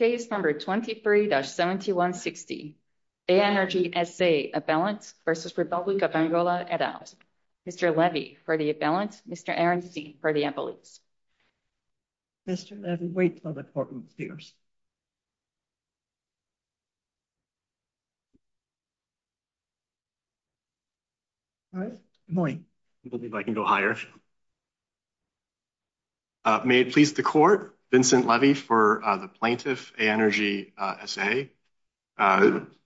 Aenergy, S.A. v. Republic of Angola Mr. Levy for the Abalance, Mr. Aronson for the Imbalance. Mr. Levy, wait for the courtroom speakers. Good morning. Let me see if I can go higher. May it please the court, Vincent Levy for the Plaintiff, Aenergy, S.A.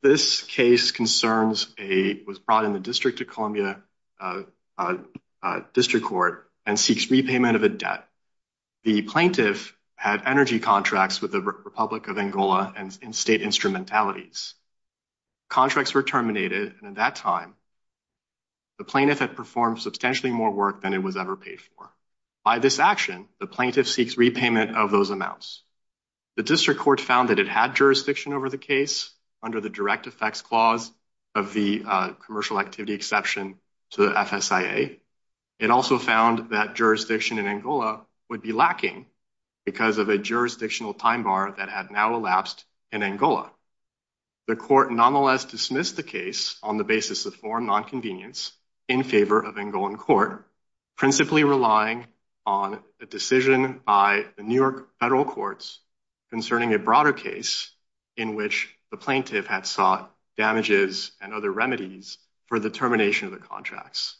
This case concerns a, was brought in the District of Columbia District Court and seeks repayment of a debt. The plaintiff had energy contracts with the Republic of Angola and state instrumentalities. Contracts were terminated, and at that time, the plaintiff had performed substantially more work than it was ever paid for. By this action, the plaintiff seeks repayment of those amounts. The District Court found that it had jurisdiction over the case under the direct effects clause of the commercial activity exception to the FSIA. It also found that jurisdiction in Angola would be lacking because of a jurisdictional time bar that had now elapsed in Angola. The court nonetheless dismissed the case on the basis of foreign nonconvenience in favor of Angolan court, principally relying on a decision by the New York federal courts concerning a broader case in which the plaintiff had sought damages and other remedies for the termination of the contracts.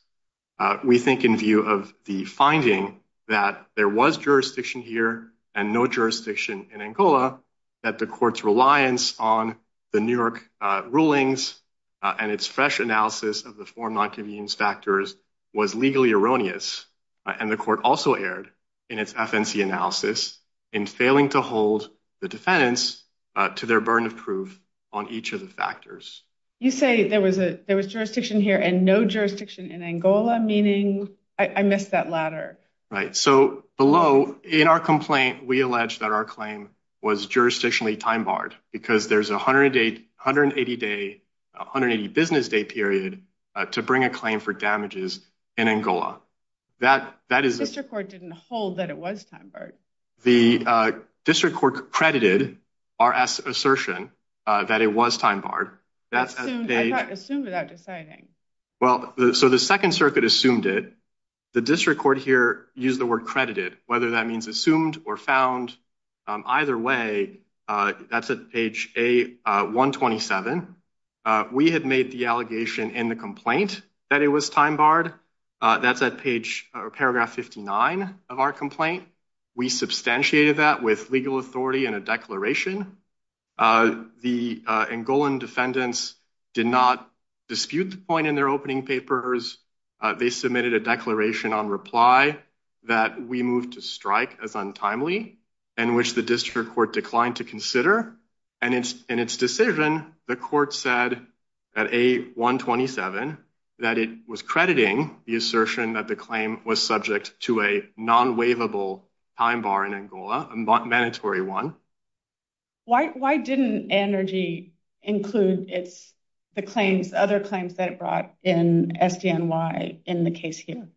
We think in view of the finding that there was jurisdiction here and no jurisdiction in Angola, that the court's reliance on the New York rulings and its fresh analysis of the foreign nonconvenience factors was legally erroneous. And the court also erred in its FNC analysis in failing to hold the defendants to their burden of proof on each of the factors. You say there was a there was jurisdiction here and no jurisdiction in Angola, meaning I missed that ladder. Right. So below in our complaint, we allege that our claim was jurisdictionally time barred because there's a hundred eight hundred and eighty day, 180 business day period to bring a claim for damages in Angola. That that is district court didn't hold that it was time for the district court credited our assertion that it was time barred. That's assumed without deciding. Well, so the Second Circuit assumed it. The district court here used the word credited, whether that means assumed or found either way. That's a page a one twenty seven. We had made the allegation in the complaint that it was time barred. That's that page or paragraph fifty nine of our complaint. We substantiated that with legal authority and a declaration. The Angolan defendants did not dispute the point in their opening papers. They submitted a declaration on reply that we moved to strike as untimely and which the district court declined to consider. And it's in its decision. The court said at a one twenty seven that it was crediting the assertion that the claim was subject to a non waivable time bar in Angola. Mandatory one. Why? Why didn't energy include it's the claims, other claims that it brought in SDNY in the case here?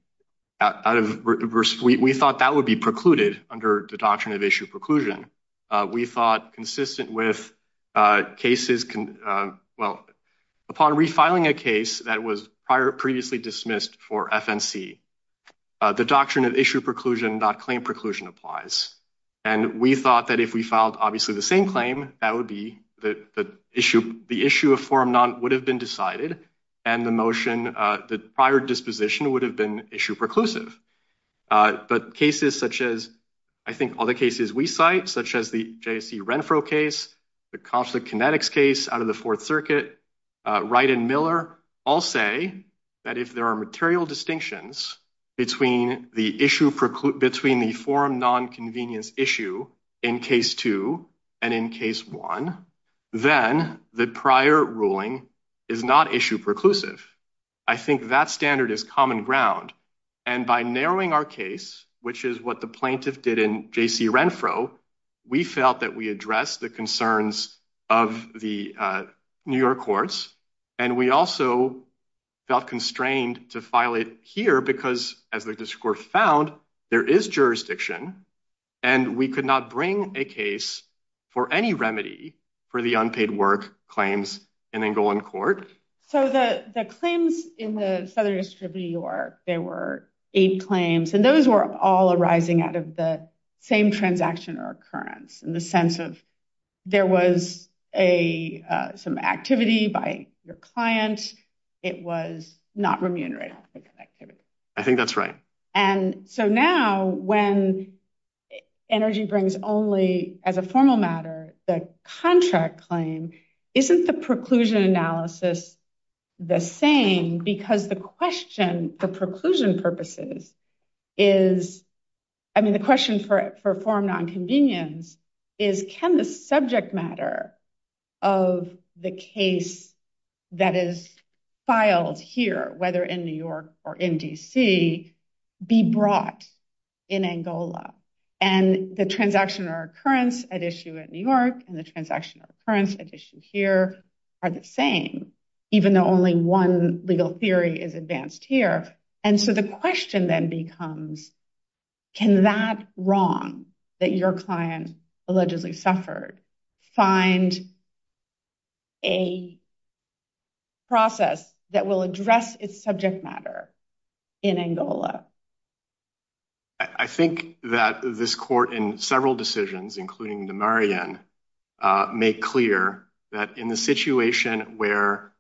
We thought that would be precluded under the doctrine of issue preclusion. We thought consistent with cases. Well, upon refiling a case that was prior previously dismissed for FNC, the doctrine of issue preclusion, not claim preclusion applies. And we thought that if we filed obviously the same claim, that would be the issue. The issue of form not would have been decided. And the motion, the prior disposition would have been issue preclusive. But cases such as I think all the cases we cite, such as the J.C. Renfro case, the conflict kinetics case out of the Fourth Circuit, right. And Miller all say that if there are material distinctions between the issue between the forum nonconvenience issue in case two and in case one, then the prior ruling is not issue preclusive. I think that standard is common ground. And by narrowing our case, which is what the plaintiff did in J.C. Renfro, we felt that we address the concerns of the New York courts. And we also felt constrained to file it here because as the court found, there is jurisdiction and we could not bring a case for any remedy for the unpaid work claims in Angolan court. So the claims in the Southern District of New York, there were eight claims and those were all arising out of the same transaction or occurrence in the sense of there was a some activity by your client. It was not remunerated. I think that's right. And so now when energy brings only as a formal matter, the contract claim isn't the preclusion analysis the same because the question for preclusion purposes is, I mean, the question for forum nonconvenience is can the subject matter of the case that is filed here, whether in New York or in D.C., be brought in Angola and the transaction or occurrence at issue in New York and the transaction or occurrence at issue here are the same, even though only one legal theory is advanced here. And so the question then becomes, can that wrong that your client allegedly suffered find a process that will address its subject matter in Angola? I think that this court in several decisions, including the Marian, make clear that in the situation where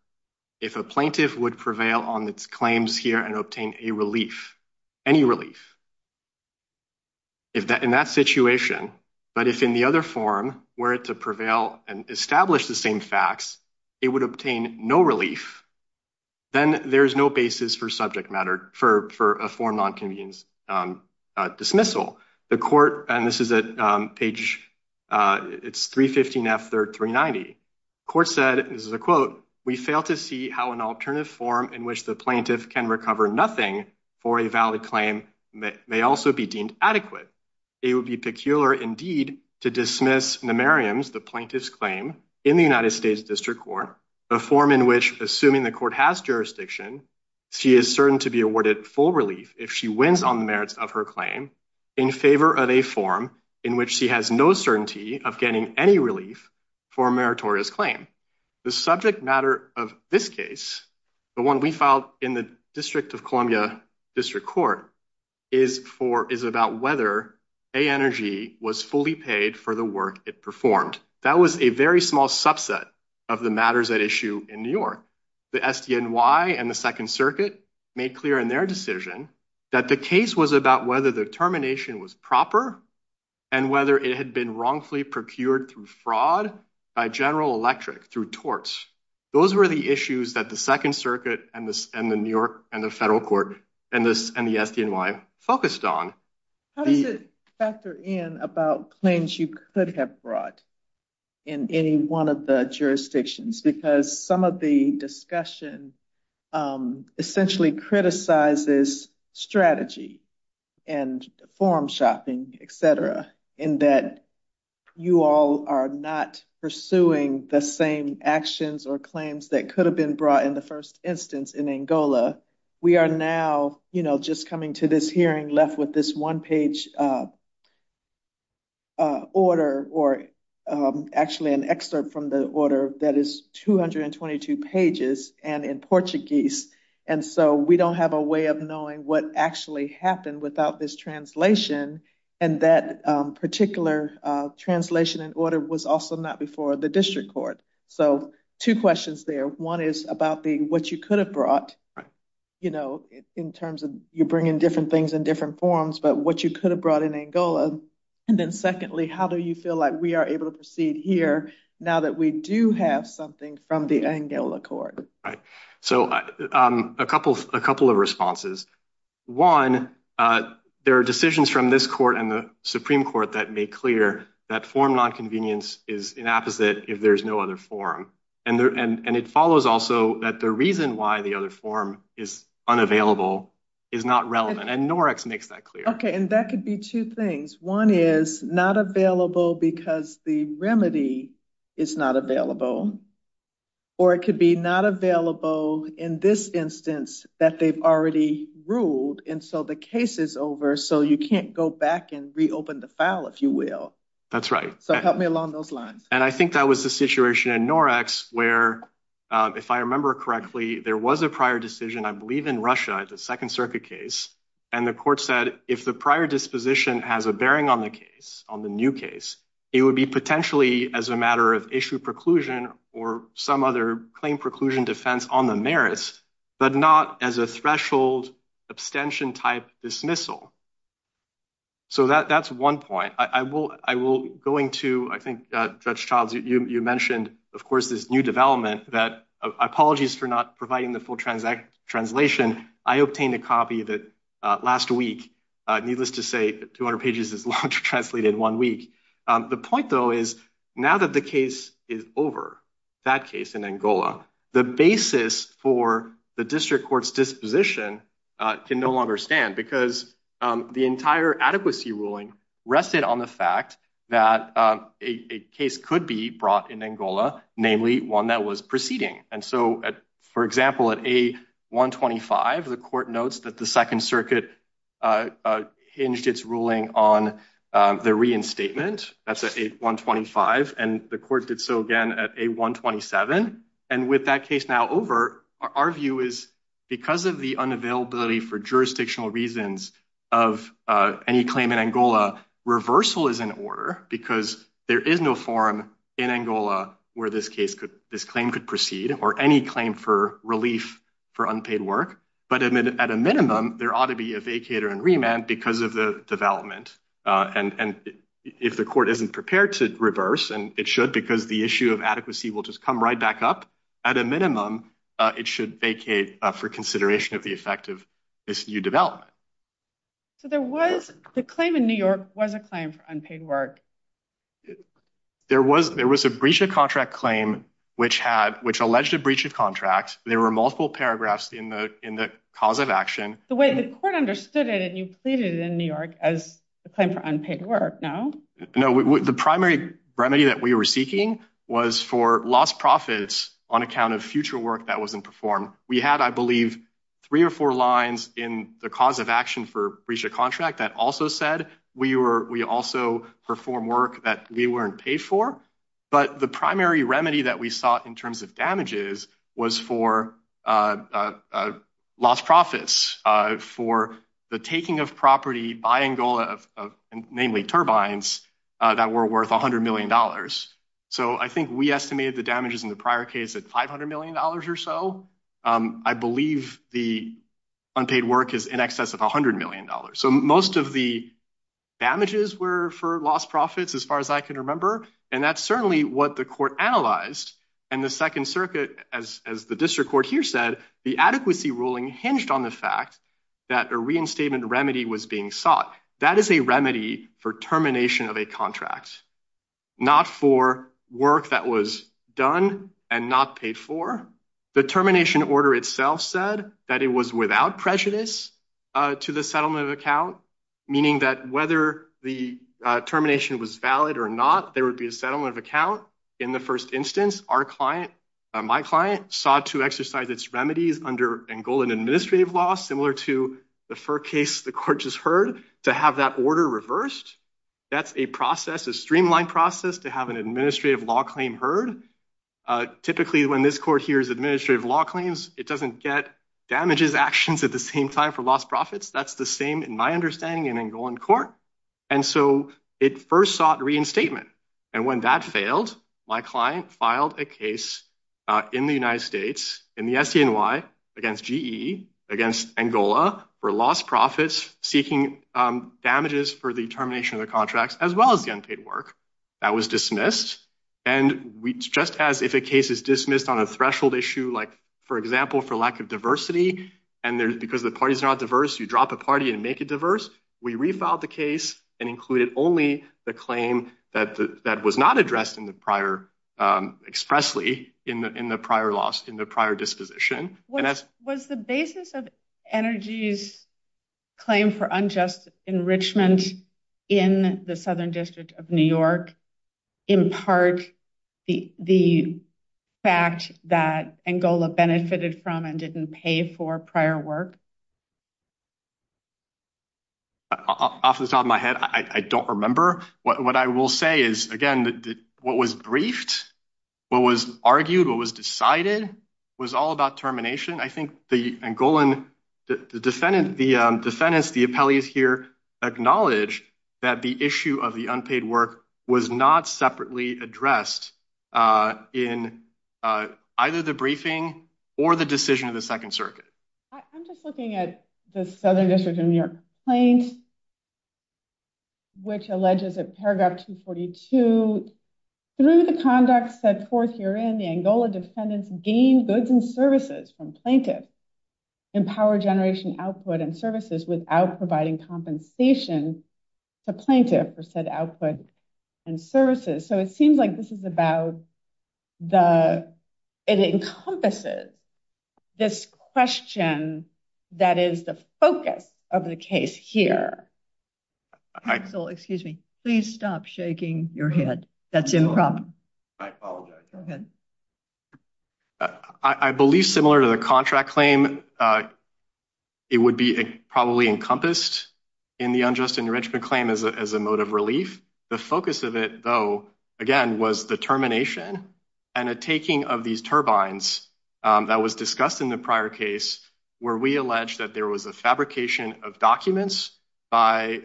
if a plaintiff would prevail on its claims here and obtain a relief, any relief. If that in that situation, but if in the other form where it to prevail and establish the same facts, it would obtain no relief, then there is no basis for subject matter for for a form on convenience dismissal the court. And this is a page. It's three fifteen after three ninety court said. This is a quote. We fail to see how an alternative form in which the plaintiff can recover nothing for a valid claim may also be deemed adequate. It would be peculiar, indeed, to dismiss the Mariam's, the plaintiff's claim in the United States District Court, a form in which assuming the court has jurisdiction, she is certain to be awarded full relief if she wins on the merits of her claim in favor of a form in which she has no certainty of getting any relief for a meritorious claim. The subject matter of this case, the one we filed in the District of Columbia District Court is for is about whether a energy was fully paid for the work it performed. That was a very small subset of the matters at issue in New York. The SDNY and the Second Circuit made clear in their decision that the case was about whether the termination was proper and whether it had been wrongfully procured through fraud by General Electric through torts. Those were the issues that the Second Circuit and the New York and the federal court and this and the SDNY focused on the factor in about claims you could have brought in any one of the jurisdictions, because some of the discussion essentially criticizes strategy and form shopping, etc. In that you all are not pursuing the same actions or claims that could have been brought in the first instance in Angola. We are now, you know, just coming to this hearing left with this one page order or actually an excerpt from the order that is 222 pages and in Portuguese. And so we don't have a way of knowing what actually happened without this translation and that particular translation and order was also not before the district court. So two questions there. One is about the what you could have brought, you know, in terms of you bring in different things in different forms, but what you could have brought in Angola. And then secondly, how do you feel like we are able to proceed here now that we do have something from the Angola court. Right. So a couple of a couple of responses. One, there are decisions from this court and the Supreme Court that make clear that form nonconvenience is an opposite if there's no other form. And it follows also that the reason why the other form is unavailable is not relevant. And Norex makes that clear. Okay. And that could be two things. One is not available because the remedy is not available or it could be not available in this instance that they've already ruled. And so the case is over. So you can't go back and reopen the file, if you will. That's right. So help me along those lines. And I think that was the situation in Norex where, if I remember correctly, there was a prior decision, I believe, in Russia, the Second Circuit case. And the court said, if the prior disposition has a bearing on the case on the new case, it would be potentially as a matter of issue preclusion or some other claim preclusion defense on the merits, but not as a threshold abstention type dismissal. So that's one point. I will go into, I think, Judge Childs, you mentioned, of course, this new development. Apologies for not providing the full translation. I obtained a copy that last week. Needless to say, 200 pages is long to translate in one week. The point, though, is now that the case is over, that case in Angola, the basis for the district court's disposition can no longer stand because the entire adequacy ruling rested on the fact that a case could be brought in Angola, namely one that was proceeding. And so, for example, at A-125, the court notes that the Second Circuit hinged its ruling on the reinstatement. That's A-125. And the court did so again at A-127. And with that case now over, our view is because of the unavailability for jurisdictional reasons of any claim in Angola, reversal is in order because there is no forum in Angola where this claim could proceed. So there was, the claim in New York was a claim for unpaid work. There was, there was a breach of contract claim, which had, which alleged to be a breach of contract. There were multiple paragraphs in the cause of action. The way the court understood it, and you pleaded in New York as a claim for unpaid work, no? No, the primary remedy that we were seeking was for lost profits on account of future work that wasn't performed. We had, I believe, three or four lines in the cause of action for breach of contract that also said we also perform work that we weren't paid for. But the primary remedy that we sought in terms of damages was for lost profits, for the taking of property by Angola, namely turbines, that were worth $100 million. So I think we estimated the damages in the prior case at $500 million or so. I believe the unpaid work is in excess of $100 million. So most of the damages were for lost profits, as far as I can remember. And that's certainly what the court analyzed. And the Second Circuit, as the district court here said, the adequacy ruling hinged on the fact that a reinstatement remedy was being sought. That is a remedy for termination of a contract, not for work that was done and not paid for. The termination order itself said that it was without prejudice to the settlement of account, meaning that whether the termination was valid or not, there would be a settlement of account. In the first instance, our client, my client, sought to exercise its remedies under Angolan administrative law, similar to the first case the court just heard, to have that order reversed. That's a process, a streamlined process, to have an administrative law claim heard. Typically, when this court hears administrative law claims, it doesn't get damages actions at the same time for lost profits. That's the same, in my understanding, in Angolan court. And so it first sought reinstatement. And when that failed, my client filed a case in the United States, in the SDNY, against GE, against Angola, for lost profits seeking damages for the termination of the contracts, as well as the unpaid work. That was dismissed. And just as if a case is dismissed on a threshold issue, like, for example, for lack of diversity, and because the parties are not diverse, you drop a party and make it diverse, we refiled the case and included only the claim that was not addressed expressly in the prior disposition. Was the basis of Energy's claim for unjust enrichment in the Southern District of New York, in part, the fact that Angola benefited from and didn't pay for prior work? Off the top of my head, I don't remember. What I will say is, again, what was briefed, what was argued, what was decided, was all about termination. I think the Angolan, the defendant, the defendants, the appellees here, acknowledged that the issue of the unpaid work was not separately addressed in either the briefing or the decision of the Second Circuit. I'm just looking at the Southern District of New York complaint, which alleges in paragraph 242, through the conduct set forth herein, the Angola defendants gained goods and services from plaintiff, empowered generation output and services without providing compensation to plaintiff for said output and services. So, it seems like this is about the, it encompasses this question that is the focus of the case here. Excuse me, please stop shaking your head. That's improper. I apologize. Go ahead. I believe, similar to the contract claim, it would be probably encompassed in the unjust enrichment claim as a mode of relief. The focus of it, though, again, was the termination and a taking of these turbines that was discussed in the prior case, where we allege that there was a fabrication of documents by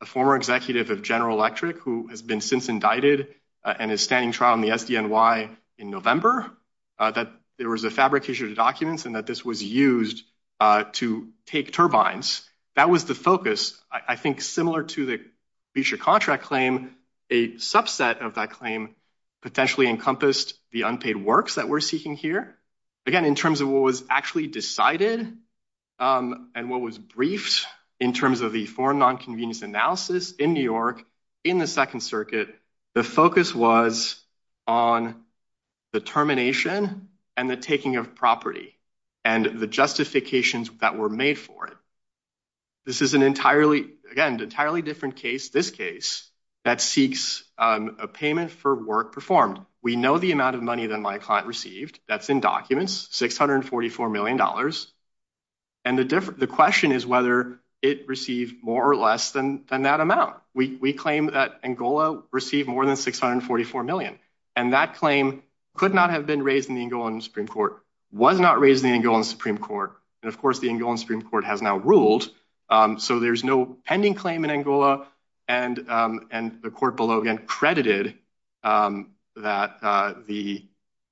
a former executive of General Electric, who has been since indicted and is standing trial in the SDNY in November, that there was a fabrication of documents and that this was used to take turbines. That was the focus. I think, similar to the contract claim, a subset of that claim potentially encompassed the unpaid works that we're seeking here. Again, in terms of what was actually decided and what was briefed in terms of the foreign nonconvenience analysis in New York in the Second Circuit, the focus was on the termination and the taking of property and the justifications that were made for it. This is an entirely, again, entirely different case, this case, that seeks a payment for work performed. We know the amount of money that my client received. That's in documents, $644 million. And the question is whether it received more or less than that amount. We claim that Angola received more than $644 million, and that claim could not have been raised in the Angolan Supreme Court, was not raised in the Angolan Supreme Court, and of course the Angolan Supreme Court has now ruled. So there's no pending claim in Angola, and the court below again credited that the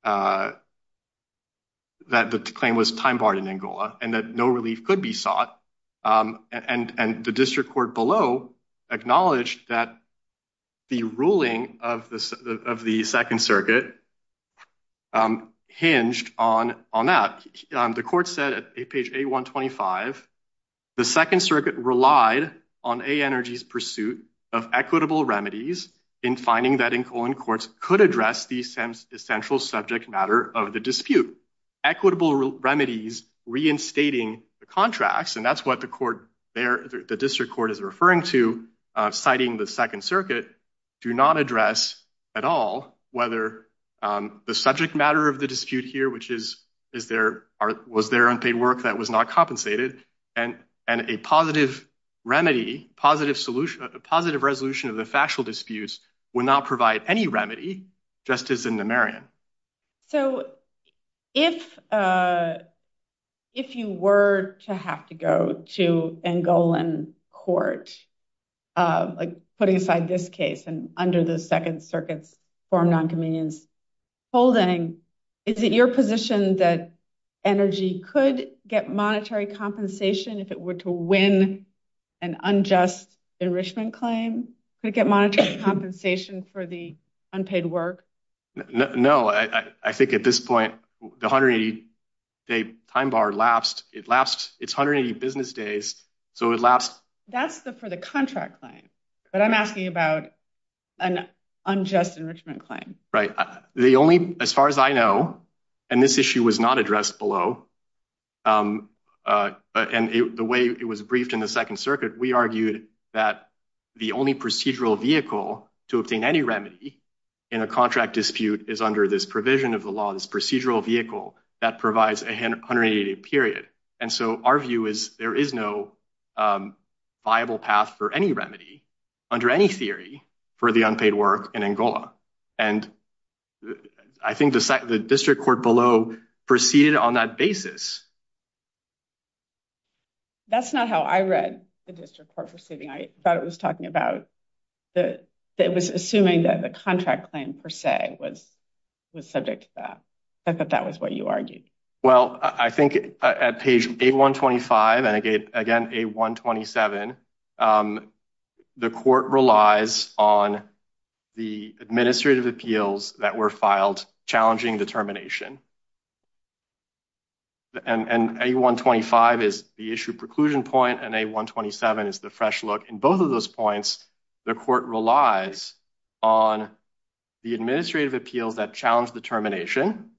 claim was time-barred in Angola and that no relief could be sought. And the district court below acknowledged that the ruling of the Second Circuit hinged on that. The court said at page A-125, the Second Circuit relied on A-Energy's pursuit of equitable remedies in finding that Angolan courts could address the essential subject matter of the dispute. Equitable remedies reinstating the contracts, and that's what the district court is referring to, citing the Second Circuit, do not address at all whether the subject matter of the dispute here, which was there unpaid work that was not compensated, and a positive remedy, a positive resolution of the factual disputes, would not provide any remedy, just as in the Marion. So if you were to have to go to Angolan court, putting aside this case and under the Second Circuit's non-convenience holding, is it your position that Energy could get monetary compensation if it were to win an unjust enrichment claim? Could it get monetary compensation for the unpaid work? No, I think at this point, the 180-day time bar lapsed. It's 180 business days, so it lapsed. That's for the contract claim, but I'm asking about an unjust enrichment claim. As far as I know, and this issue was not addressed below, and the way it was briefed in the Second Circuit, we argued that the only procedural vehicle to obtain any remedy in a contract dispute is under this provision of the law, this procedural vehicle that provides a 180-day period. And so our view is there is no viable path for any remedy, under any theory, for the unpaid work in Angola. And I think the district court below proceeded on that basis. That's not how I read the district court proceeding. I thought it was assuming that the contract claim, per se, was subject to that. I thought that was what you argued. Well, I think at page 8125 and again 8127, the court relies on the administrative appeals that were filed challenging the termination. And 8125 is the issue preclusion point, and 8127 is the fresh look. In both of those points, the court relies on the administrative appeals that challenge the termination.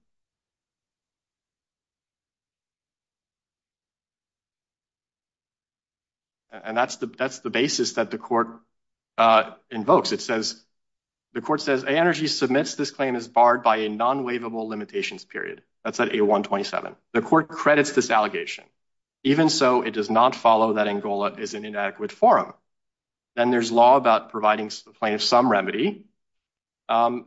And that's the basis that the court invokes. It says, the court says, ANRG submits this claim as barred by a non-waivable limitations period. That's at 8127. The court credits this allegation. Even so, it does not follow that Angola is an inadequate forum. Then there's law about providing plaintiff some remedy. And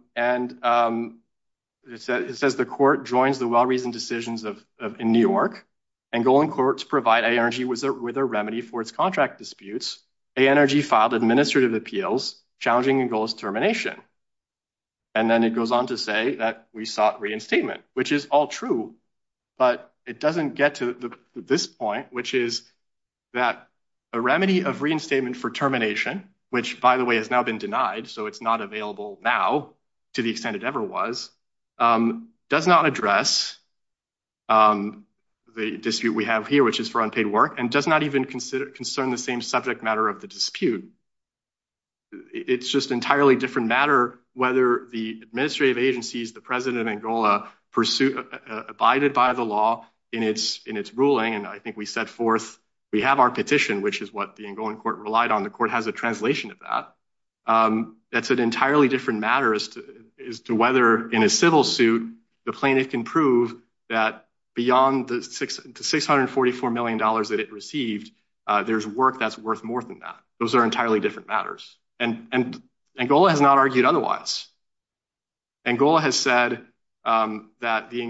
it says the court joins the well-reasoned decisions in New York. Angolan courts provide ANRG with a remedy for its contract disputes. ANRG filed administrative appeals challenging Angola's termination. And then it goes on to say that we sought reinstatement, which is all true. But it doesn't get to this point, which is that a remedy of reinstatement for termination, which, by the way, has now been denied, so it's not available now to the extent it ever was, does not address the dispute we have here, which is for unpaid work, and does not even concern the same subject matter of the dispute. It's just an entirely different matter whether the administrative agencies, the president of Angola, abided by the law in its ruling. And I think we set forth, we have our petition, which is what the Angolan court relied on. The court has a translation of that. That's an entirely different matter as to whether in a civil suit, the plaintiff can prove that beyond the $644 million that it received, there's work that's worth more than that. Those are entirely different matters. And Angola has not argued otherwise. Angola has said that the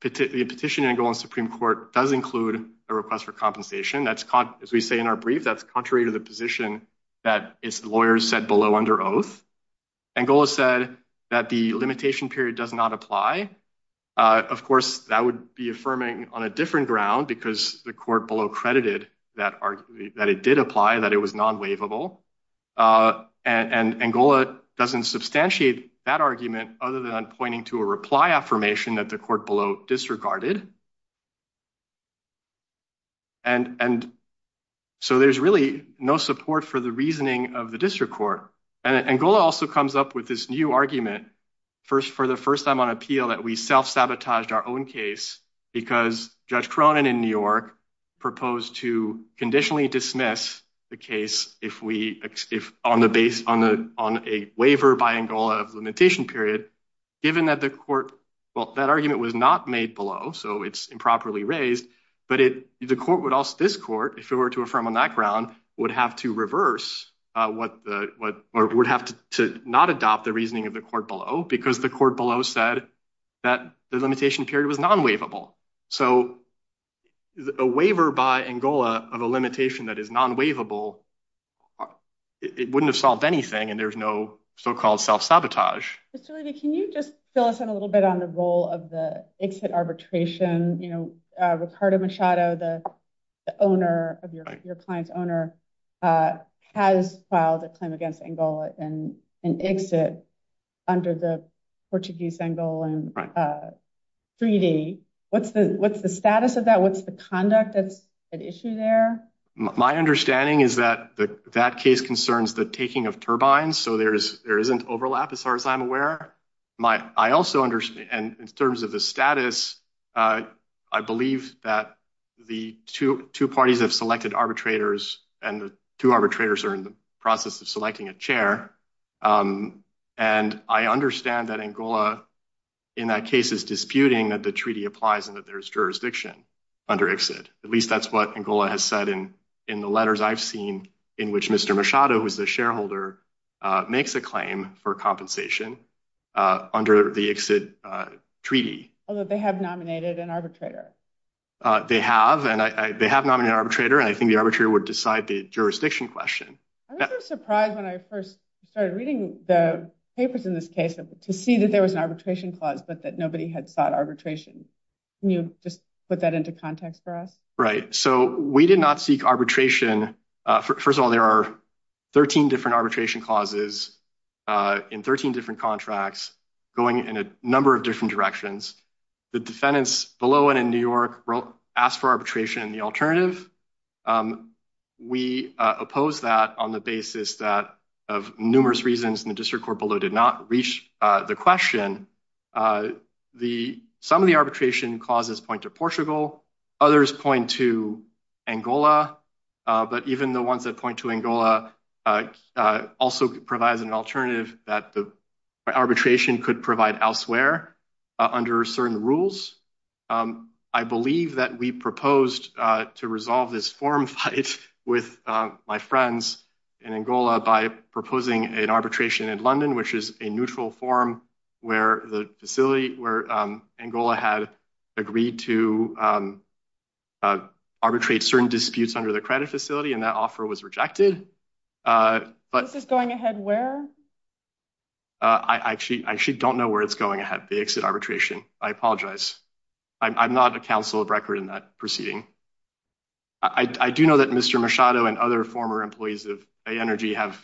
petition in Angolan Supreme Court does include a request for compensation. That's, as we say in our brief, that's contrary to the position that its lawyers said below under oath. Angola said that the limitation period does not apply. Of course, that would be affirming on a different ground because the court below credited that it did apply, that it was non-waivable. And Angola doesn't substantiate that argument other than pointing to a reply affirmation that the court below disregarded. And so there's really no support for the reasoning of the district court. And Angola also comes up with this new argument for the first time on appeal that we self-sabotaged our own case because Judge Cronin in New York proposed to conditionally dismiss the case on a waiver by Angola of limitation period, given that the court, well, that argument was not made below. So it's improperly raised. But the court would also, this court, if it were to affirm on that ground, would have to reverse or would have to not adopt the reasoning of the court below because the court below said that the limitation period was non-waivable. So a waiver by Angola of a limitation that is non-waivable, it wouldn't have solved anything and there's no so-called self-sabotage. Can you just fill us in a little bit on the role of the exit arbitration? You know, Ricardo Machado, the owner of your client's owner, has filed a claim against Angola and exit under the Portuguese Angola 3D. What's the what's the status of that? What's the conduct that's at issue there? My understanding is that that case concerns the taking of turbines. So there is there isn't overlap as far as I'm aware. I also understand in terms of the status, I believe that the two parties have selected arbitrators and the two arbitrators are in the process of selecting a chair. And I understand that Angola in that case is disputing that the treaty applies and that there is jurisdiction under exit. At least that's what Angola has said in in the letters I've seen in which Mr. Machado was the shareholder makes a claim for compensation under the exit treaty. Although they have nominated an arbitrator. They have and they have nominated arbitrator and I think the arbitrator would decide the jurisdiction question. I was surprised when I first started reading the papers in this case to see that there was an arbitration clause, but that nobody had sought arbitration. Can you just put that into context for us? Right. So we did not seek arbitration. First of all, there are 13 different arbitration clauses in 13 different contracts going in a number of different directions. The defendants below and in New York asked for arbitration and the alternative. We oppose that on the basis that of numerous reasons in the district court below did not reach the question. The some of the arbitration clauses point to Portugal. Others point to Angola. But even the ones that point to Angola also provides an alternative that the arbitration could provide elsewhere under certain rules. I believe that we proposed to resolve this forum fight with my friends in Angola by proposing an arbitration in London, which is a neutral forum where the facility where Angola had agreed to arbitrate certain disputes under the credit facility and that offer was rejected. But this is going ahead where? I actually don't know where it's going ahead. They exit arbitration. I apologize. I'm not a council of record in that proceeding. I do know that Mr. Machado and other former employees of energy have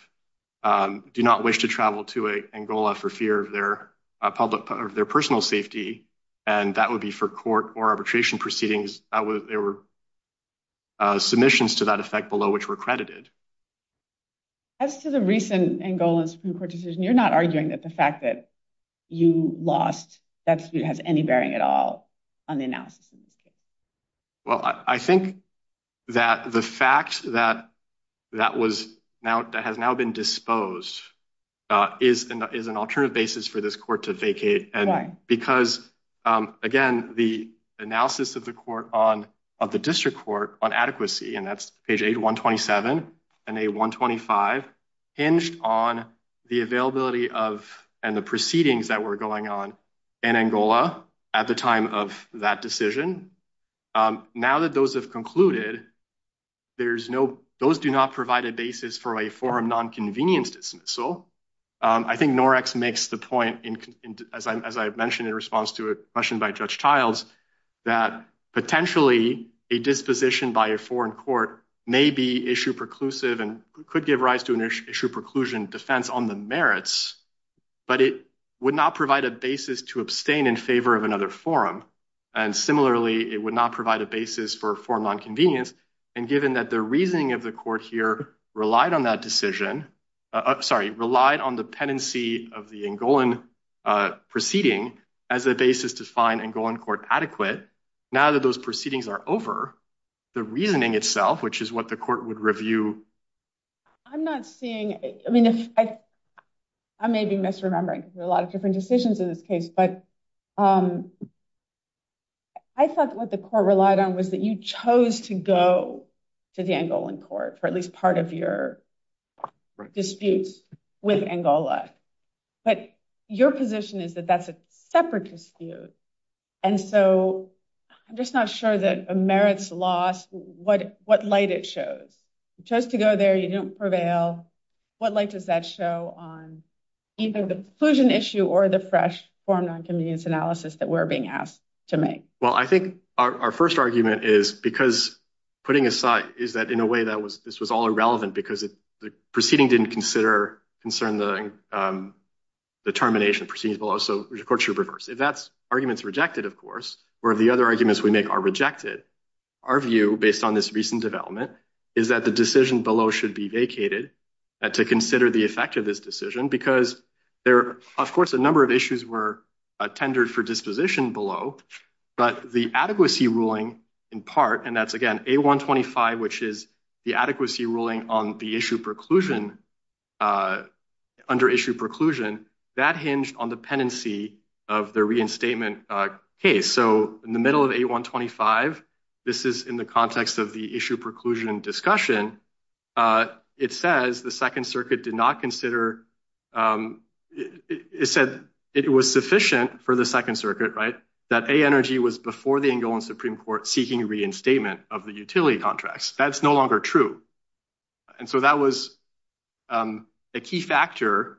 do not wish to travel to Angola for fear of their public, their personal safety, and that would be for court or arbitration proceedings. There were submissions to that effect below which were credited. As to the recent Angola Supreme Court decision, you're not arguing that the fact that you lost that has any bearing at all on the analysis. Well, I think that the fact that that was now that has now been disposed is is an alternative basis for this court to vacate. And because, again, the analysis of the court on of the district court on adequacy, and that's page eight, one twenty seven and a one twenty five, hinged on the availability of and the proceedings that were going on in Angola at the time of that decision. Now that those have concluded, there's no those do not provide a basis for a forum nonconvenience dismissal. I think Norex makes the point, as I mentioned in response to a question by Judge Childs, that potentially a disposition by a foreign court may be issue preclusive and could give rise to an issue preclusion defense on the merits. But it would not provide a basis to abstain in favor of another forum. And similarly, it would not provide a basis for a forum on convenience. And given that the reasoning of the court here relied on that decision, sorry, relied on the pendency of the Angolan proceeding as a basis to find Angolan court adequate. Now that those proceedings are over, the reasoning itself, which is what the court would review. I'm not seeing. I mean, if I may be misremembering a lot of different decisions in this case, but. I thought what the court relied on was that you chose to go to the Angolan court for at least part of your disputes with Angola. But your position is that that's a separate dispute. And so I'm just not sure that a merits loss, what what light it shows just to go there. You don't prevail. What light does that show on either the inclusion issue or the fresh forum on convenience analysis that we're being asked to make? Well, I think our first argument is because putting aside is that in a way that was this was all irrelevant because the proceeding didn't consider concern the termination proceedings below. If that's arguments rejected, of course, where the other arguments we make are rejected. Our view, based on this recent development, is that the decision below should be vacated to consider the effect of this decision because there are, of course, a number of issues were tendered for disposition below. But the adequacy ruling in part, and that's again, a one twenty five, which is the adequacy ruling on the issue preclusion under issue preclusion that hinge on dependency of the reinstatement case. So in the middle of a one twenty five, this is in the context of the issue preclusion discussion. It says the Second Circuit did not consider it said it was sufficient for the Second Circuit. Right. That energy was before the Supreme Court seeking reinstatement of the utility contracts. That's no longer true. And so that was a key factor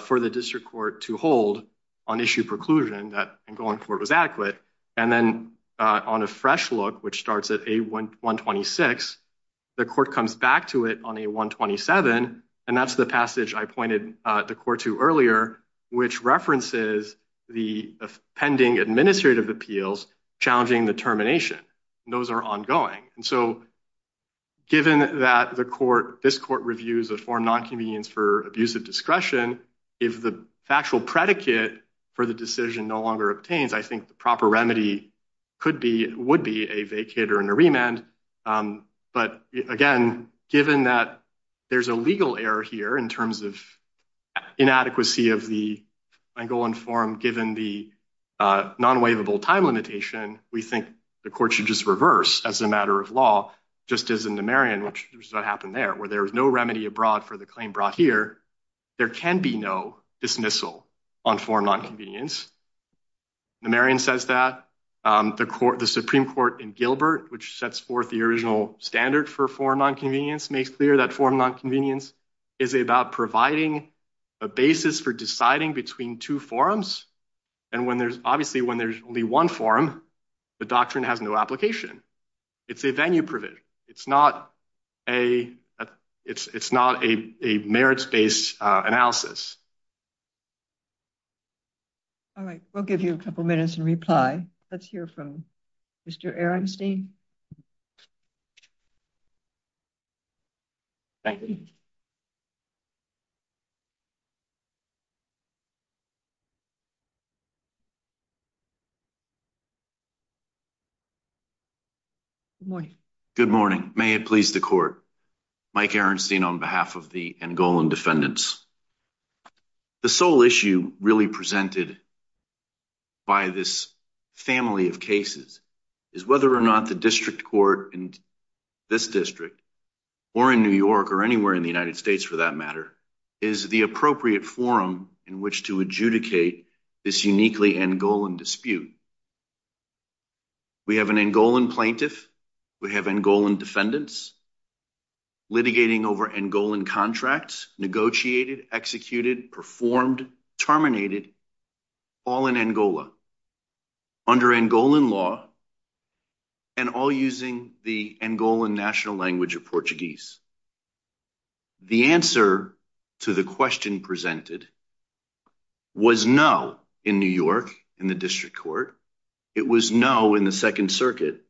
for the district court to hold on issue preclusion that going forward was adequate. And then on a fresh look, which starts at a one one twenty six, the court comes back to it on a one twenty seven. And that's the passage I pointed the court to earlier, which references the pending administrative appeals challenging the termination. Those are ongoing. And so given that the court, this court reviews a form nonconvenience for abuse of discretion, if the factual predicate for the decision no longer obtains, I think the proper remedy could be would be a vacate or a remand. But again, given that there's a legal error here in terms of inadequacy of the ongoing form, given the non waivable time limitation, we think the court should just reverse as a matter of law. Just as in the Marion, which is what happened there, where there is no remedy abroad for the claim brought here. There can be no dismissal on form nonconvenience. Marion says that the court, the Supreme Court in Gilbert, which sets forth the original standard for form on convenience, makes clear that form nonconvenience is about providing a basis for deciding between two forums. And when there's obviously when there's only one forum, the doctrine has no application. It's a venue. It's not a it's not a merits based analysis. All right, we'll give you a couple minutes and reply. Let's hear from Mr. Aaronstein. Thank you. Good morning. Good morning. May it please the court. Mike Aaronstein on behalf of the goal and defendants. The sole issue really presented. By this family of cases is whether or not the district court in this district. Or in New York or anywhere in the United States, for that matter, is the appropriate forum in which to adjudicate this uniquely and goal and dispute. We have an end goal and plaintiff. We have and goal and defendants. Litigating over and goal and contracts negotiated, executed, performed, terminated. All in Angola under and goal in law. And all using the goal and national language of Portuguese. The answer to the question presented. Was no in New York in the district court. It was no in the Second Circuit.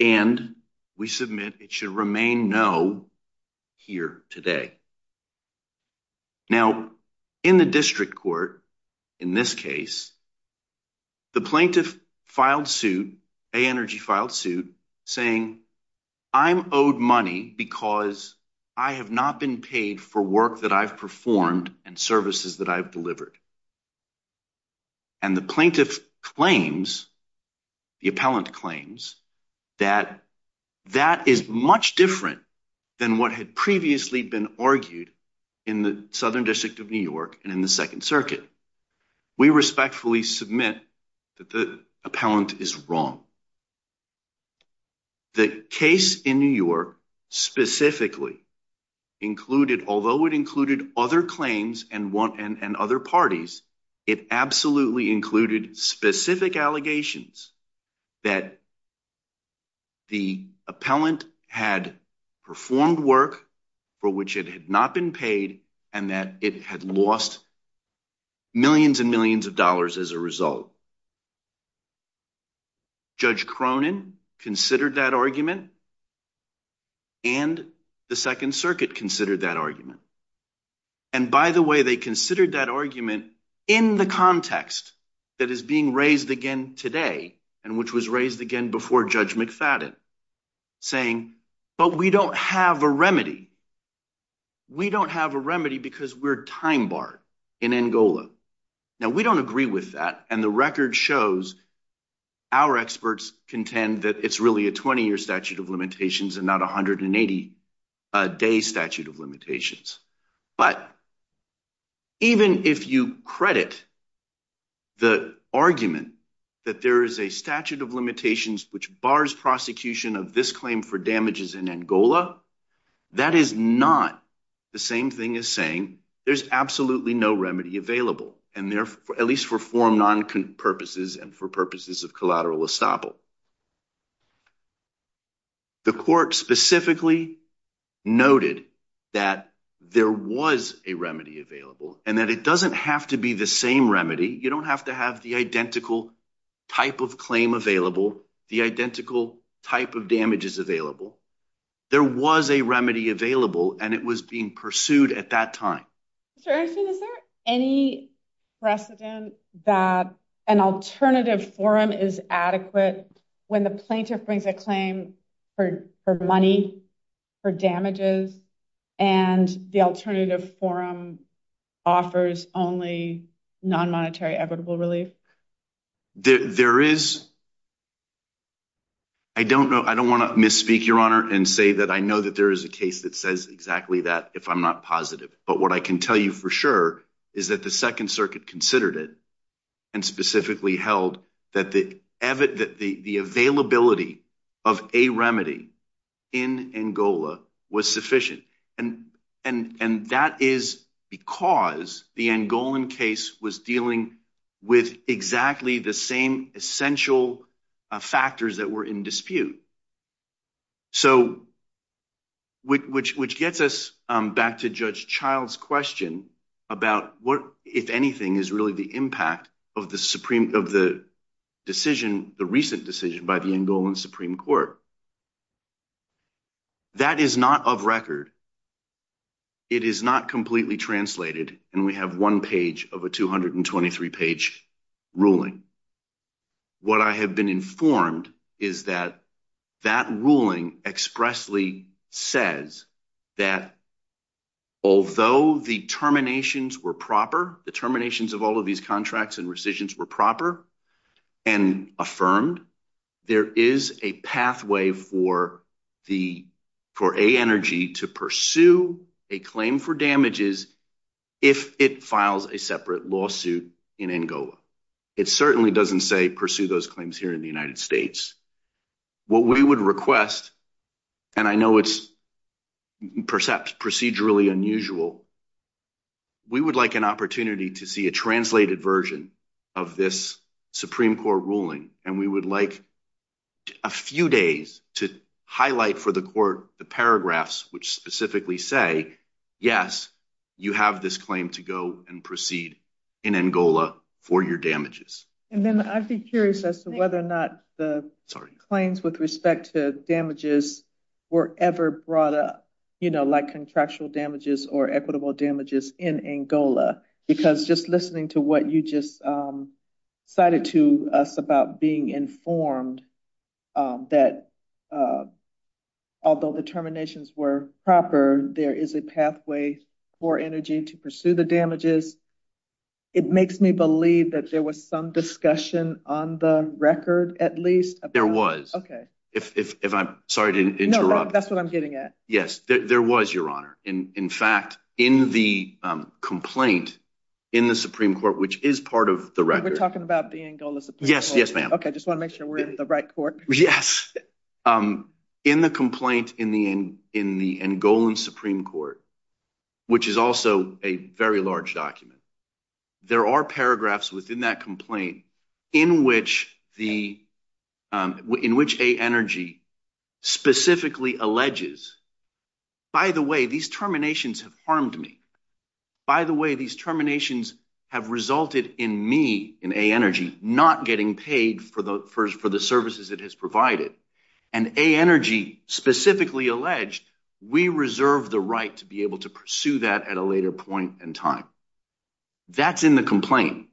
And we submit it should remain no. Here today. Now, in the district court, in this case. The plaintiff filed suit energy filed suit saying. I'm owed money because I have not been paid for work that I've performed and services that I've delivered. And the plaintiff claims the appellant claims. That that is much different than what had previously been argued. In the southern district of New York and in the Second Circuit. We respectfully submit that the appellant is wrong. The case in New York specifically. Included, although it included other claims and one and other parties, it absolutely included specific allegations. That. The appellant had performed work. For which it had not been paid and that it had lost. Millions and millions of dollars as a result. Judge Cronin considered that argument. And the Second Circuit considered that argument. And by the way, they considered that argument in the context. That is being raised again today and which was raised again before judge McFadden. Saying, but we don't have a remedy. We don't have a remedy because we're time bar in Angola. Now, we don't agree with that and the record shows. Our experts contend that it's really a 20 year statute of limitations and not a hundred and eighty. A day statute of limitations, but. Even if you credit. The argument that there is a statute of limitations, which bars prosecution of this claim for damages in Angola. That is not the same thing as saying there's absolutely no remedy available. And therefore, at least for form, non purposes and for purposes of collateral estoppel. The court specifically noted that there was a remedy available and that it doesn't have to be the same remedy. You don't have to have the identical type of claim available, the identical type of damages available. There was a remedy available and it was being pursued at that time. Is there any precedent that an alternative forum is adequate when the plaintiff brings a claim for money for damages and the alternative forum offers only non-monetary equitable relief? There is. I don't know. I don't want to misspeak your honor and say that I know that there is a case that says exactly that if I'm not positive. But what I can tell you for sure is that the 2nd Circuit considered it and specifically held that the the availability of a remedy in Angola was sufficient. And and and that is because the Angolan case was dealing with exactly the same essential factors that were in dispute. So. Which which gets us back to Judge Child's question about what, if anything, is really the impact of the Supreme of the decision, the recent decision by the Angolan Supreme Court. That is not of record. It is not completely translated and we have one page of a 223 page ruling. What I have been informed is that that ruling expressly says that. Although the terminations were proper, the terminations of all of these contracts and rescissions were proper and affirmed, there is a pathway for the for a energy to pursue a claim for damages. If it files a separate lawsuit in Angola, it certainly doesn't say pursue those claims here in the United States. What we would request, and I know it's percept procedurally unusual. We would like an opportunity to see a translated version of this Supreme Court ruling, and we would like a few days to highlight for the court the paragraphs, which specifically say, yes, you have this claim to go and proceed in Angola for your damages. And then I'd be curious as to whether or not the claims with respect to damages were ever brought up, you know, like contractual damages or equitable damages in Angola. Because just listening to what you just cited to us about being informed that. Although the terminations were proper, there is a pathway for energy to pursue the damages. It makes me believe that there was some discussion on the record, at least there was. OK, if I'm sorry to interrupt. That's what I'm getting at. Yes, there was, Your Honor. In fact, in the complaint in the Supreme Court, which is part of the record, we're talking about the Angola. Yes, yes, ma'am. OK, just want to make sure we're in the right court. Yes, in the complaint in the in in the Angolan Supreme Court, which is also a very large document. There are paragraphs within that complaint in which the in which a energy specifically alleges, by the way, these terminations have harmed me. By the way, these terminations have resulted in me in a energy not getting paid for the first for the services it has provided and a energy specifically alleged. We reserve the right to be able to pursue that at a later point in time. That's in the complaint.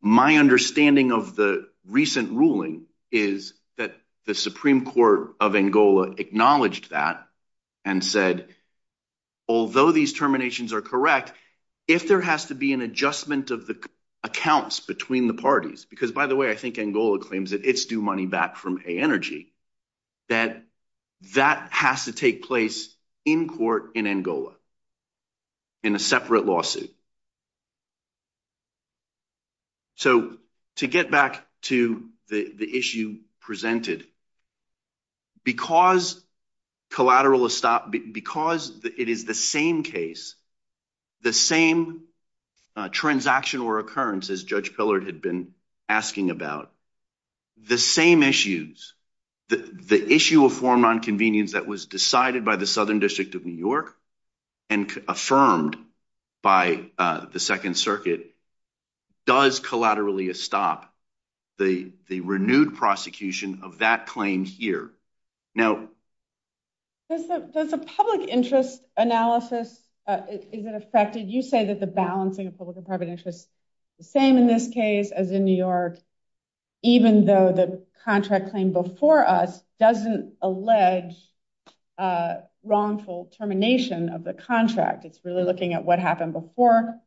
My understanding of the recent ruling is that the Supreme Court of Angola acknowledged that and said, although these terminations are correct, if there has to be an adjustment of the accounts between the parties, because by the way, I think Angola claims that it's due money back from a energy that that has to take place in court in Angola. In a separate lawsuit. So to get back to the issue presented. Because collateral is stopped because it is the same case, the same transaction or occurrence as Judge Pillard had been asking about the same issues, the issue of foreign nonconvenience that was decided by the Southern District of New York and affirmed by the Second Circuit. Does collaterally a stop the renewed prosecution of that claim here now? That's a public interest analysis. Is it affected? You say that the balancing of public and private interests, the same in this case as in New York, even though the contract claim before us doesn't allege wrongful termination of the contract. It's really looking at what happened before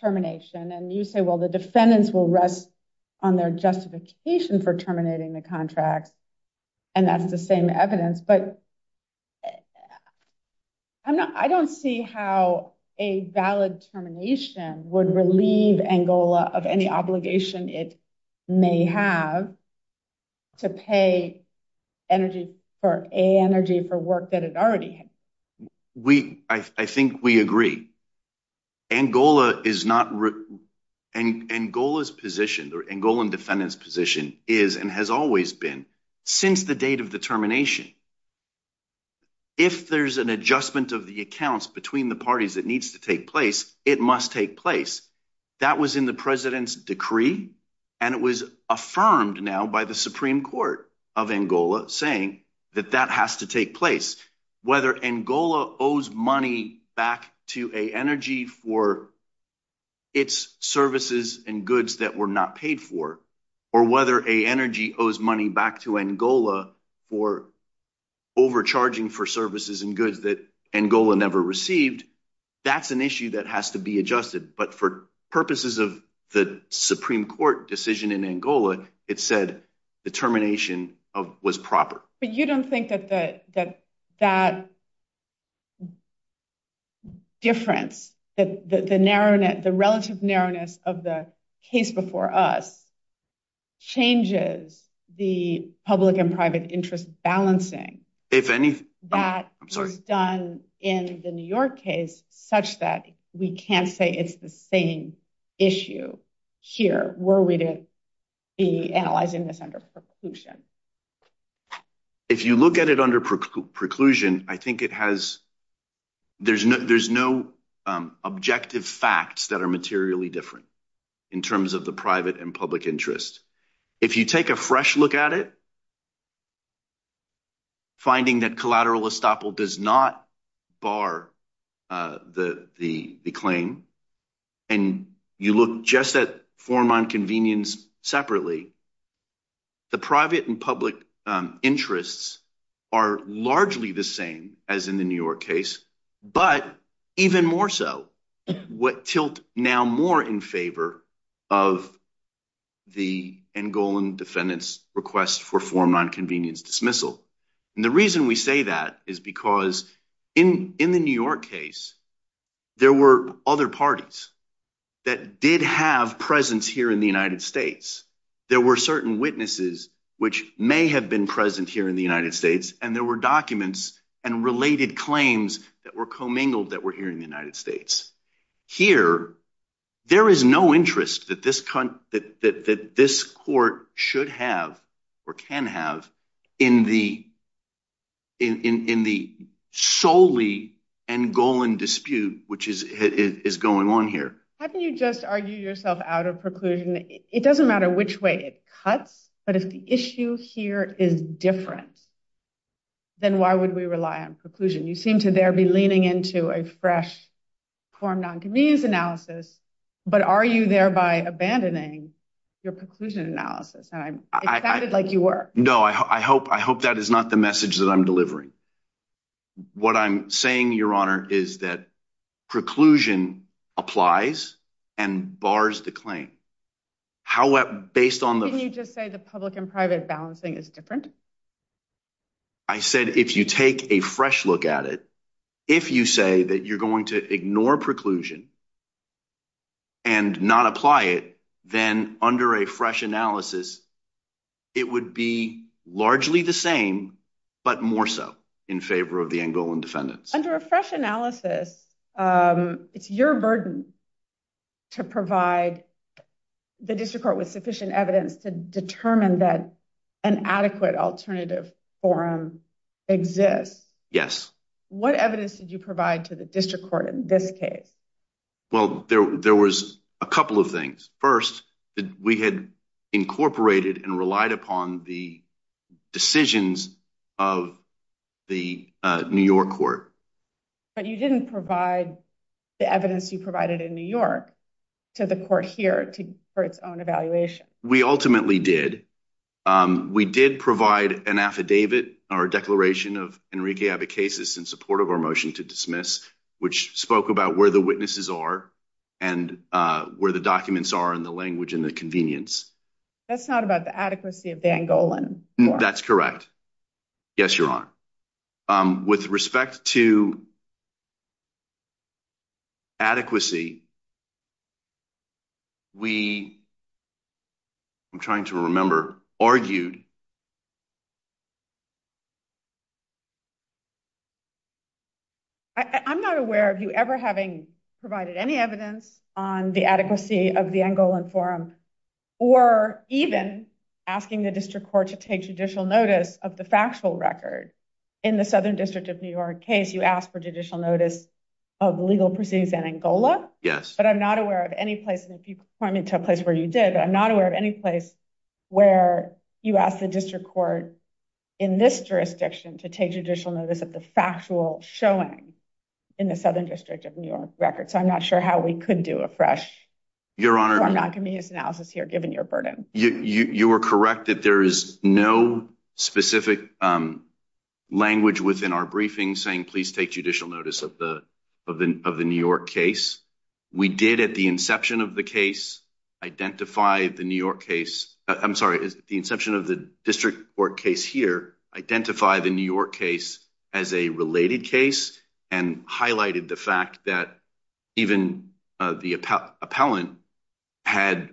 termination. And you say, well, the defendants will rest on their justification for terminating the contracts. And that's the same evidence, but. I'm not I don't see how a valid termination would relieve Angola of any obligation it may have. To pay energy for a energy for work that it already. We I think we agree. Angola is not written and Angola's position or Angolan defendant's position is and has always been since the date of the termination. If there's an adjustment of the accounts between the parties that needs to take place, it must take place. That was in the president's decree, and it was affirmed now by the Supreme Court of Angola, saying that that has to take place, whether Angola owes money back to a energy for. It's services and goods that were not paid for, or whether a energy owes money back to Angola for. Overcharging for services and goods that Angola never received, that's an issue that has to be adjusted, but for purposes of the Supreme Court decision in Angola, it said the termination of was proper. But you don't think that that that. Difference that the narrowness, the relative narrowness of the case before us. Changes the public and private interest balancing, if any, that is done in the New York case such that we can't say it's the same issue here. Were we to be analyzing this under preclusion? If you look at it under preclusion, I think it has. There's no objective facts that are materially different in terms of the private and public interest. If you take a fresh look at it. Finding that collateral estoppel does not bar the claim, and you look just at form on convenience separately. The private and public interests are largely the same as in the New York case, but even more so what tilt now more in favor of. The goal and defendants request for form on convenience dismissal and the reason we say that is because in in the New York case. There were other parties that did have presence here in the United States. There were certain witnesses, which may have been present here in the United States, and there were documents and related claims that were commingled that were here in the United States. Here, there is no interest that this that this court should have or can have in the. In the solely and Golan dispute, which is is going on here, you just argue yourself out of preclusion. It doesn't matter which way it cuts, but if the issue here is different. Then why would we rely on preclusion? You seem to there be leaning into a fresh form nonconvenience analysis, but are you thereby abandoning your preclusion analysis? And I sounded like you were no, I hope I hope that is not the message that I'm delivering. What I'm saying, your honor, is that preclusion applies and bars the claim. How based on the you just say the public and private balancing is different. I said, if you take a fresh look at it, if you say that you're going to ignore preclusion. And not apply it, then under a fresh analysis, it would be largely the same, but more so in favor of the angle and defendants under a fresh analysis. It's your burden to provide the district court with sufficient evidence to determine that an adequate alternative forum exists. Yes. What evidence did you provide to the district court in this case? Well, there was a couple of things. First, we had incorporated and relied upon the decisions of the New York court. But you didn't provide the evidence you provided in New York to the court here to for its own evaluation. We ultimately did. We did provide an affidavit or declaration of Enrique Abacasis in support of our motion to dismiss, which spoke about where the witnesses are and where the documents are in the language and the convenience. That's not about the adequacy of the Angolan. That's correct. Yes, your honor. With respect to. Adequacy. We. I'm trying to remember argued. I'm not aware of you ever having provided any evidence on the adequacy of the Angolan forum or even asking the district court to take judicial notice of the factual record in the southern district of New York case. You asked for judicial notice of legal proceedings in Angola. Yes, but I'm not aware of any place. And if you point me to a place where you did, I'm not aware of any place where you could have done that. You asked the district court in this jurisdiction to take judicial notice of the factual showing in the southern district of New York record. So I'm not sure how we could do a fresh. Your honor, I'm not going to use analysis here. Given your burden, you are correct that there is no specific language within our briefing saying, please take judicial notice of the of the of the New York case. We did at the inception of the case, identify the New York case. I'm sorry, the inception of the district court case here, identify the New York case as a related case and highlighted the fact that. Even the appellant had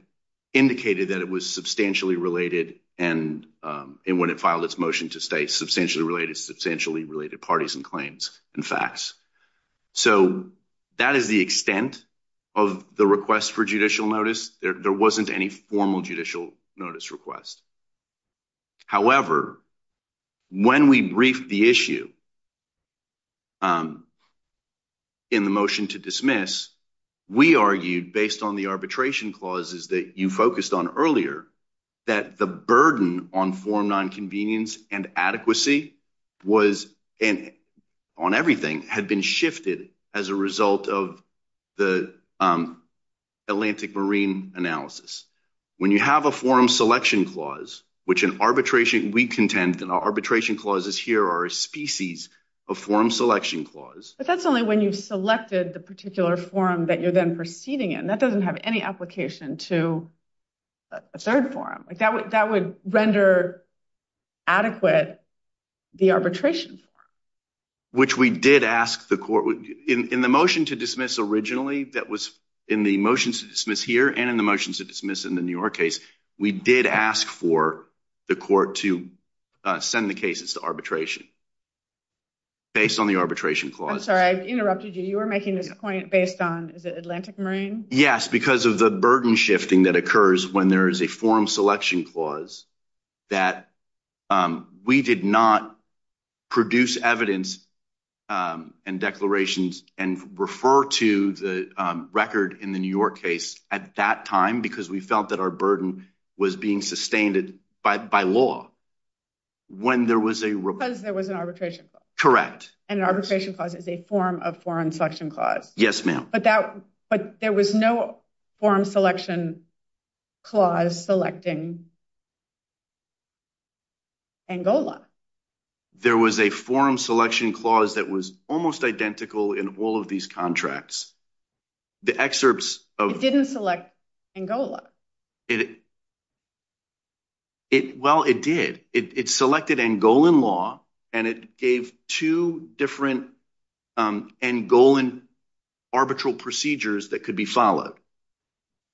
indicated that it was substantially related and when it filed its motion to stay substantially related, substantially related parties and claims and facts. So, that is the extent of the request for judicial notice. There wasn't any formal judicial notice request. However, when we brief the issue in the motion to dismiss, we argued based on the arbitration clauses that you focused on earlier that the burden on form nine convenience and adequacy was on everything had been shifted as a result of the Atlantic Marine analysis. When you have a forum selection clause, which in arbitration, we contend that our arbitration clauses here are a species of forum selection clause. But that's only when you've selected the particular forum that you're then proceeding in. That doesn't have any application to a third forum. That would render adequate the arbitration. Which we did ask the court in the motion to dismiss originally that was in the motions to dismiss here and in the motions to dismiss in the New York case, we did ask for the court to send the cases to arbitration. Based on the arbitration clause. I'm sorry, I interrupted you. You were making this point based on the Atlantic Marine. Yes, because of the burden shifting that occurs when there is a forum selection clause that we did not produce evidence and declarations and refer to the record in the New York case at that time because we felt that our burden was being sustained by law. Because there was an arbitration clause. Correct. And arbitration clause is a form of foreign selection clause. Yes, ma'am. But there was no forum selection clause selecting Angola. There was a forum selection clause that was almost identical in all of these contracts. The excerpts of didn't select Angola. Well, it did. It selected Angolan law, and it gave two different Angolan arbitral procedures that could be followed.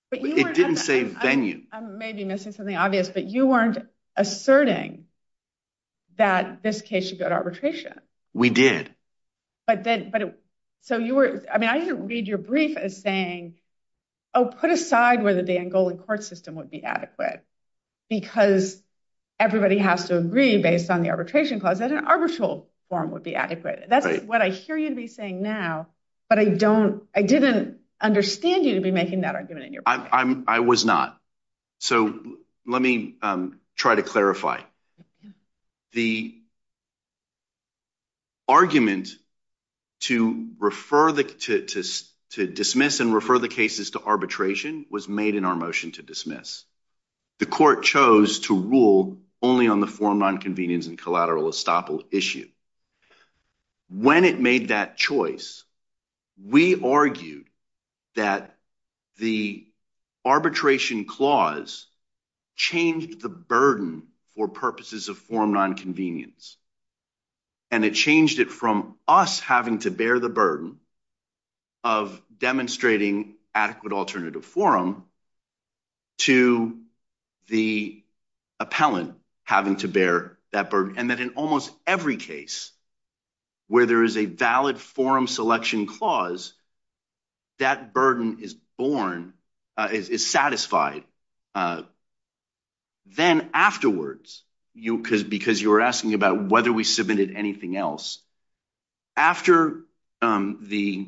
But it didn't say venue. I may be missing something obvious, but you weren't asserting that this case should go to arbitration. We did. But but so you were I mean, I didn't read your brief as saying, oh, put aside where the Angolan court system would be adequate because everybody has to agree based on the arbitration clause that an arbitral form would be adequate. That's what I hear you to be saying now. But I don't I didn't understand you to be making that argument in your I'm I was not. So let me try to clarify. The argument to refer to dismiss and refer the cases to arbitration was made in our motion to dismiss. The court chose to rule only on the form on convenience and collateral estoppel issue. When it made that choice, we argued that the arbitration clause changed the burden for purposes of form nonconvenience. And it changed it from us having to bear the burden of demonstrating adequate alternative forum. To the appellant having to bear that burden and that in almost every case where there is a valid forum selection clause. That burden is born is satisfied. Then afterwards, you because because you were asking about whether we submitted anything else after the.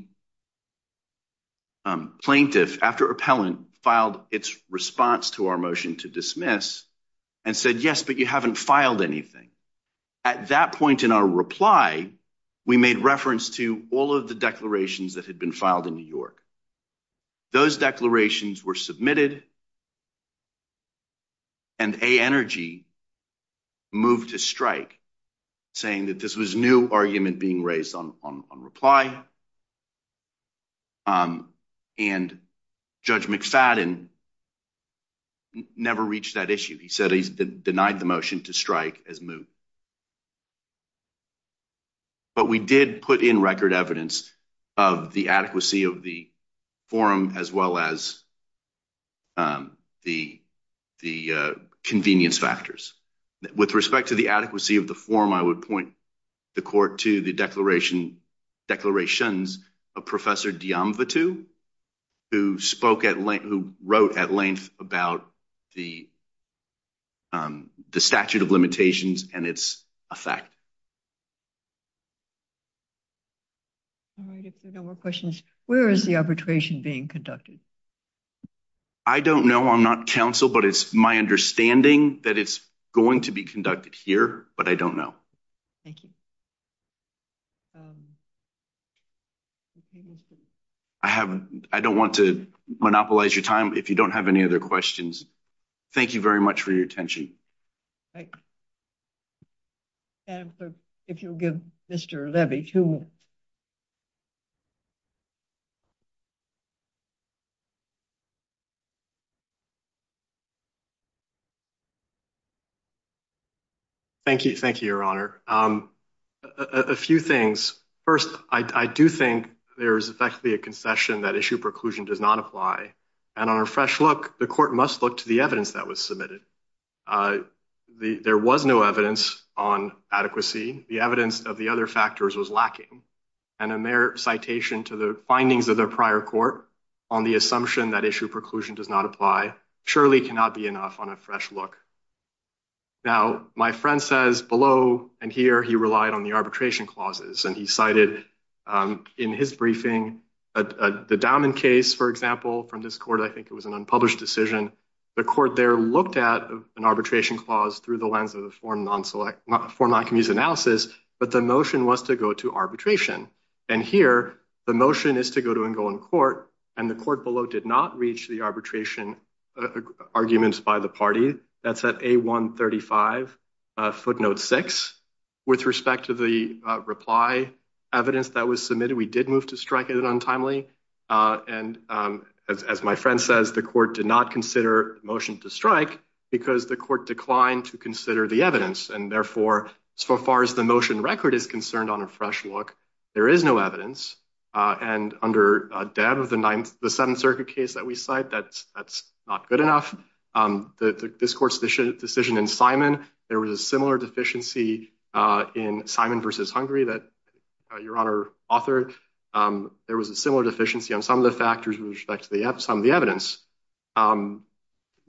Plaintiff after appellant filed its response to our motion to dismiss and said, yes, but you haven't filed anything. At that point in our reply, we made reference to all of the declarations that had been filed in New York. Those declarations were submitted. And a energy move to strike, saying that this was new argument being raised on on on reply. And judge McFadden never reached that issue. He said he's denied the motion to strike as move. But we did put in record evidence of the adequacy of the forum as well as. The the convenience factors with respect to the adequacy of the form, I would point the court to the declaration. Declarations of Professor Deon, the two who spoke at length, who wrote at length about the. The statute of limitations and its effect. All right, if there are no more questions, where is the arbitration being conducted? I don't know. I'm not counsel, but it's my understanding that it's going to be conducted here, but I don't know. Thank you. I haven't I don't want to monopolize your time if you don't have any other questions. Thank you very much for your attention. And if you'll give Mr. Levy to. Thank you. Thank you, Your Honor. A few things. First, I do think there is effectively a concession that issue preclusion does not apply. And on a fresh look, the court must look to the evidence that was submitted. There was no evidence on adequacy. The evidence of the other factors was lacking. And a mere citation to the findings of the prior court on the assumption that issue preclusion does not apply. Surely cannot be enough on a fresh look. Now, my friend says below and here he relied on the arbitration clauses and he cited in his briefing. The diamond case, for example, from this court, I think it was an unpublished decision. The court there looked at an arbitration clause through the lens of the foreign non-select format can use analysis. But the motion was to go to arbitration. And here the motion is to go to and go in court. And the court below did not reach the arbitration arguments by the party. That's at a one thirty five footnote six. With respect to the reply evidence that was submitted, we did move to strike it untimely. And as my friend says, the court did not consider motion to strike because the court declined to consider the evidence. And therefore, so far as the motion record is concerned on a fresh look, there is no evidence. And under a dad of the ninth, the Seventh Circuit case that we cite, that's that's not good enough. This court's decision in Simon, there was a similar deficiency in Simon versus Hungary that your honor authored. There was a similar deficiency on some of the factors with respect to the some of the evidence.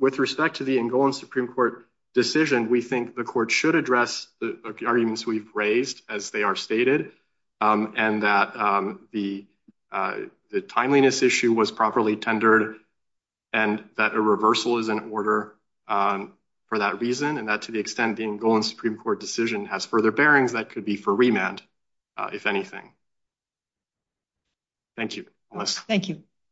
With respect to the in going Supreme Court decision, we think the court should address the arguments we've raised as they are stated. And that the the timeliness issue was properly tendered and that a reversal is in order for that reason. And that to the extent being going Supreme Court decision has further bearings that could be for remand, if anything. Thank you. Thank you.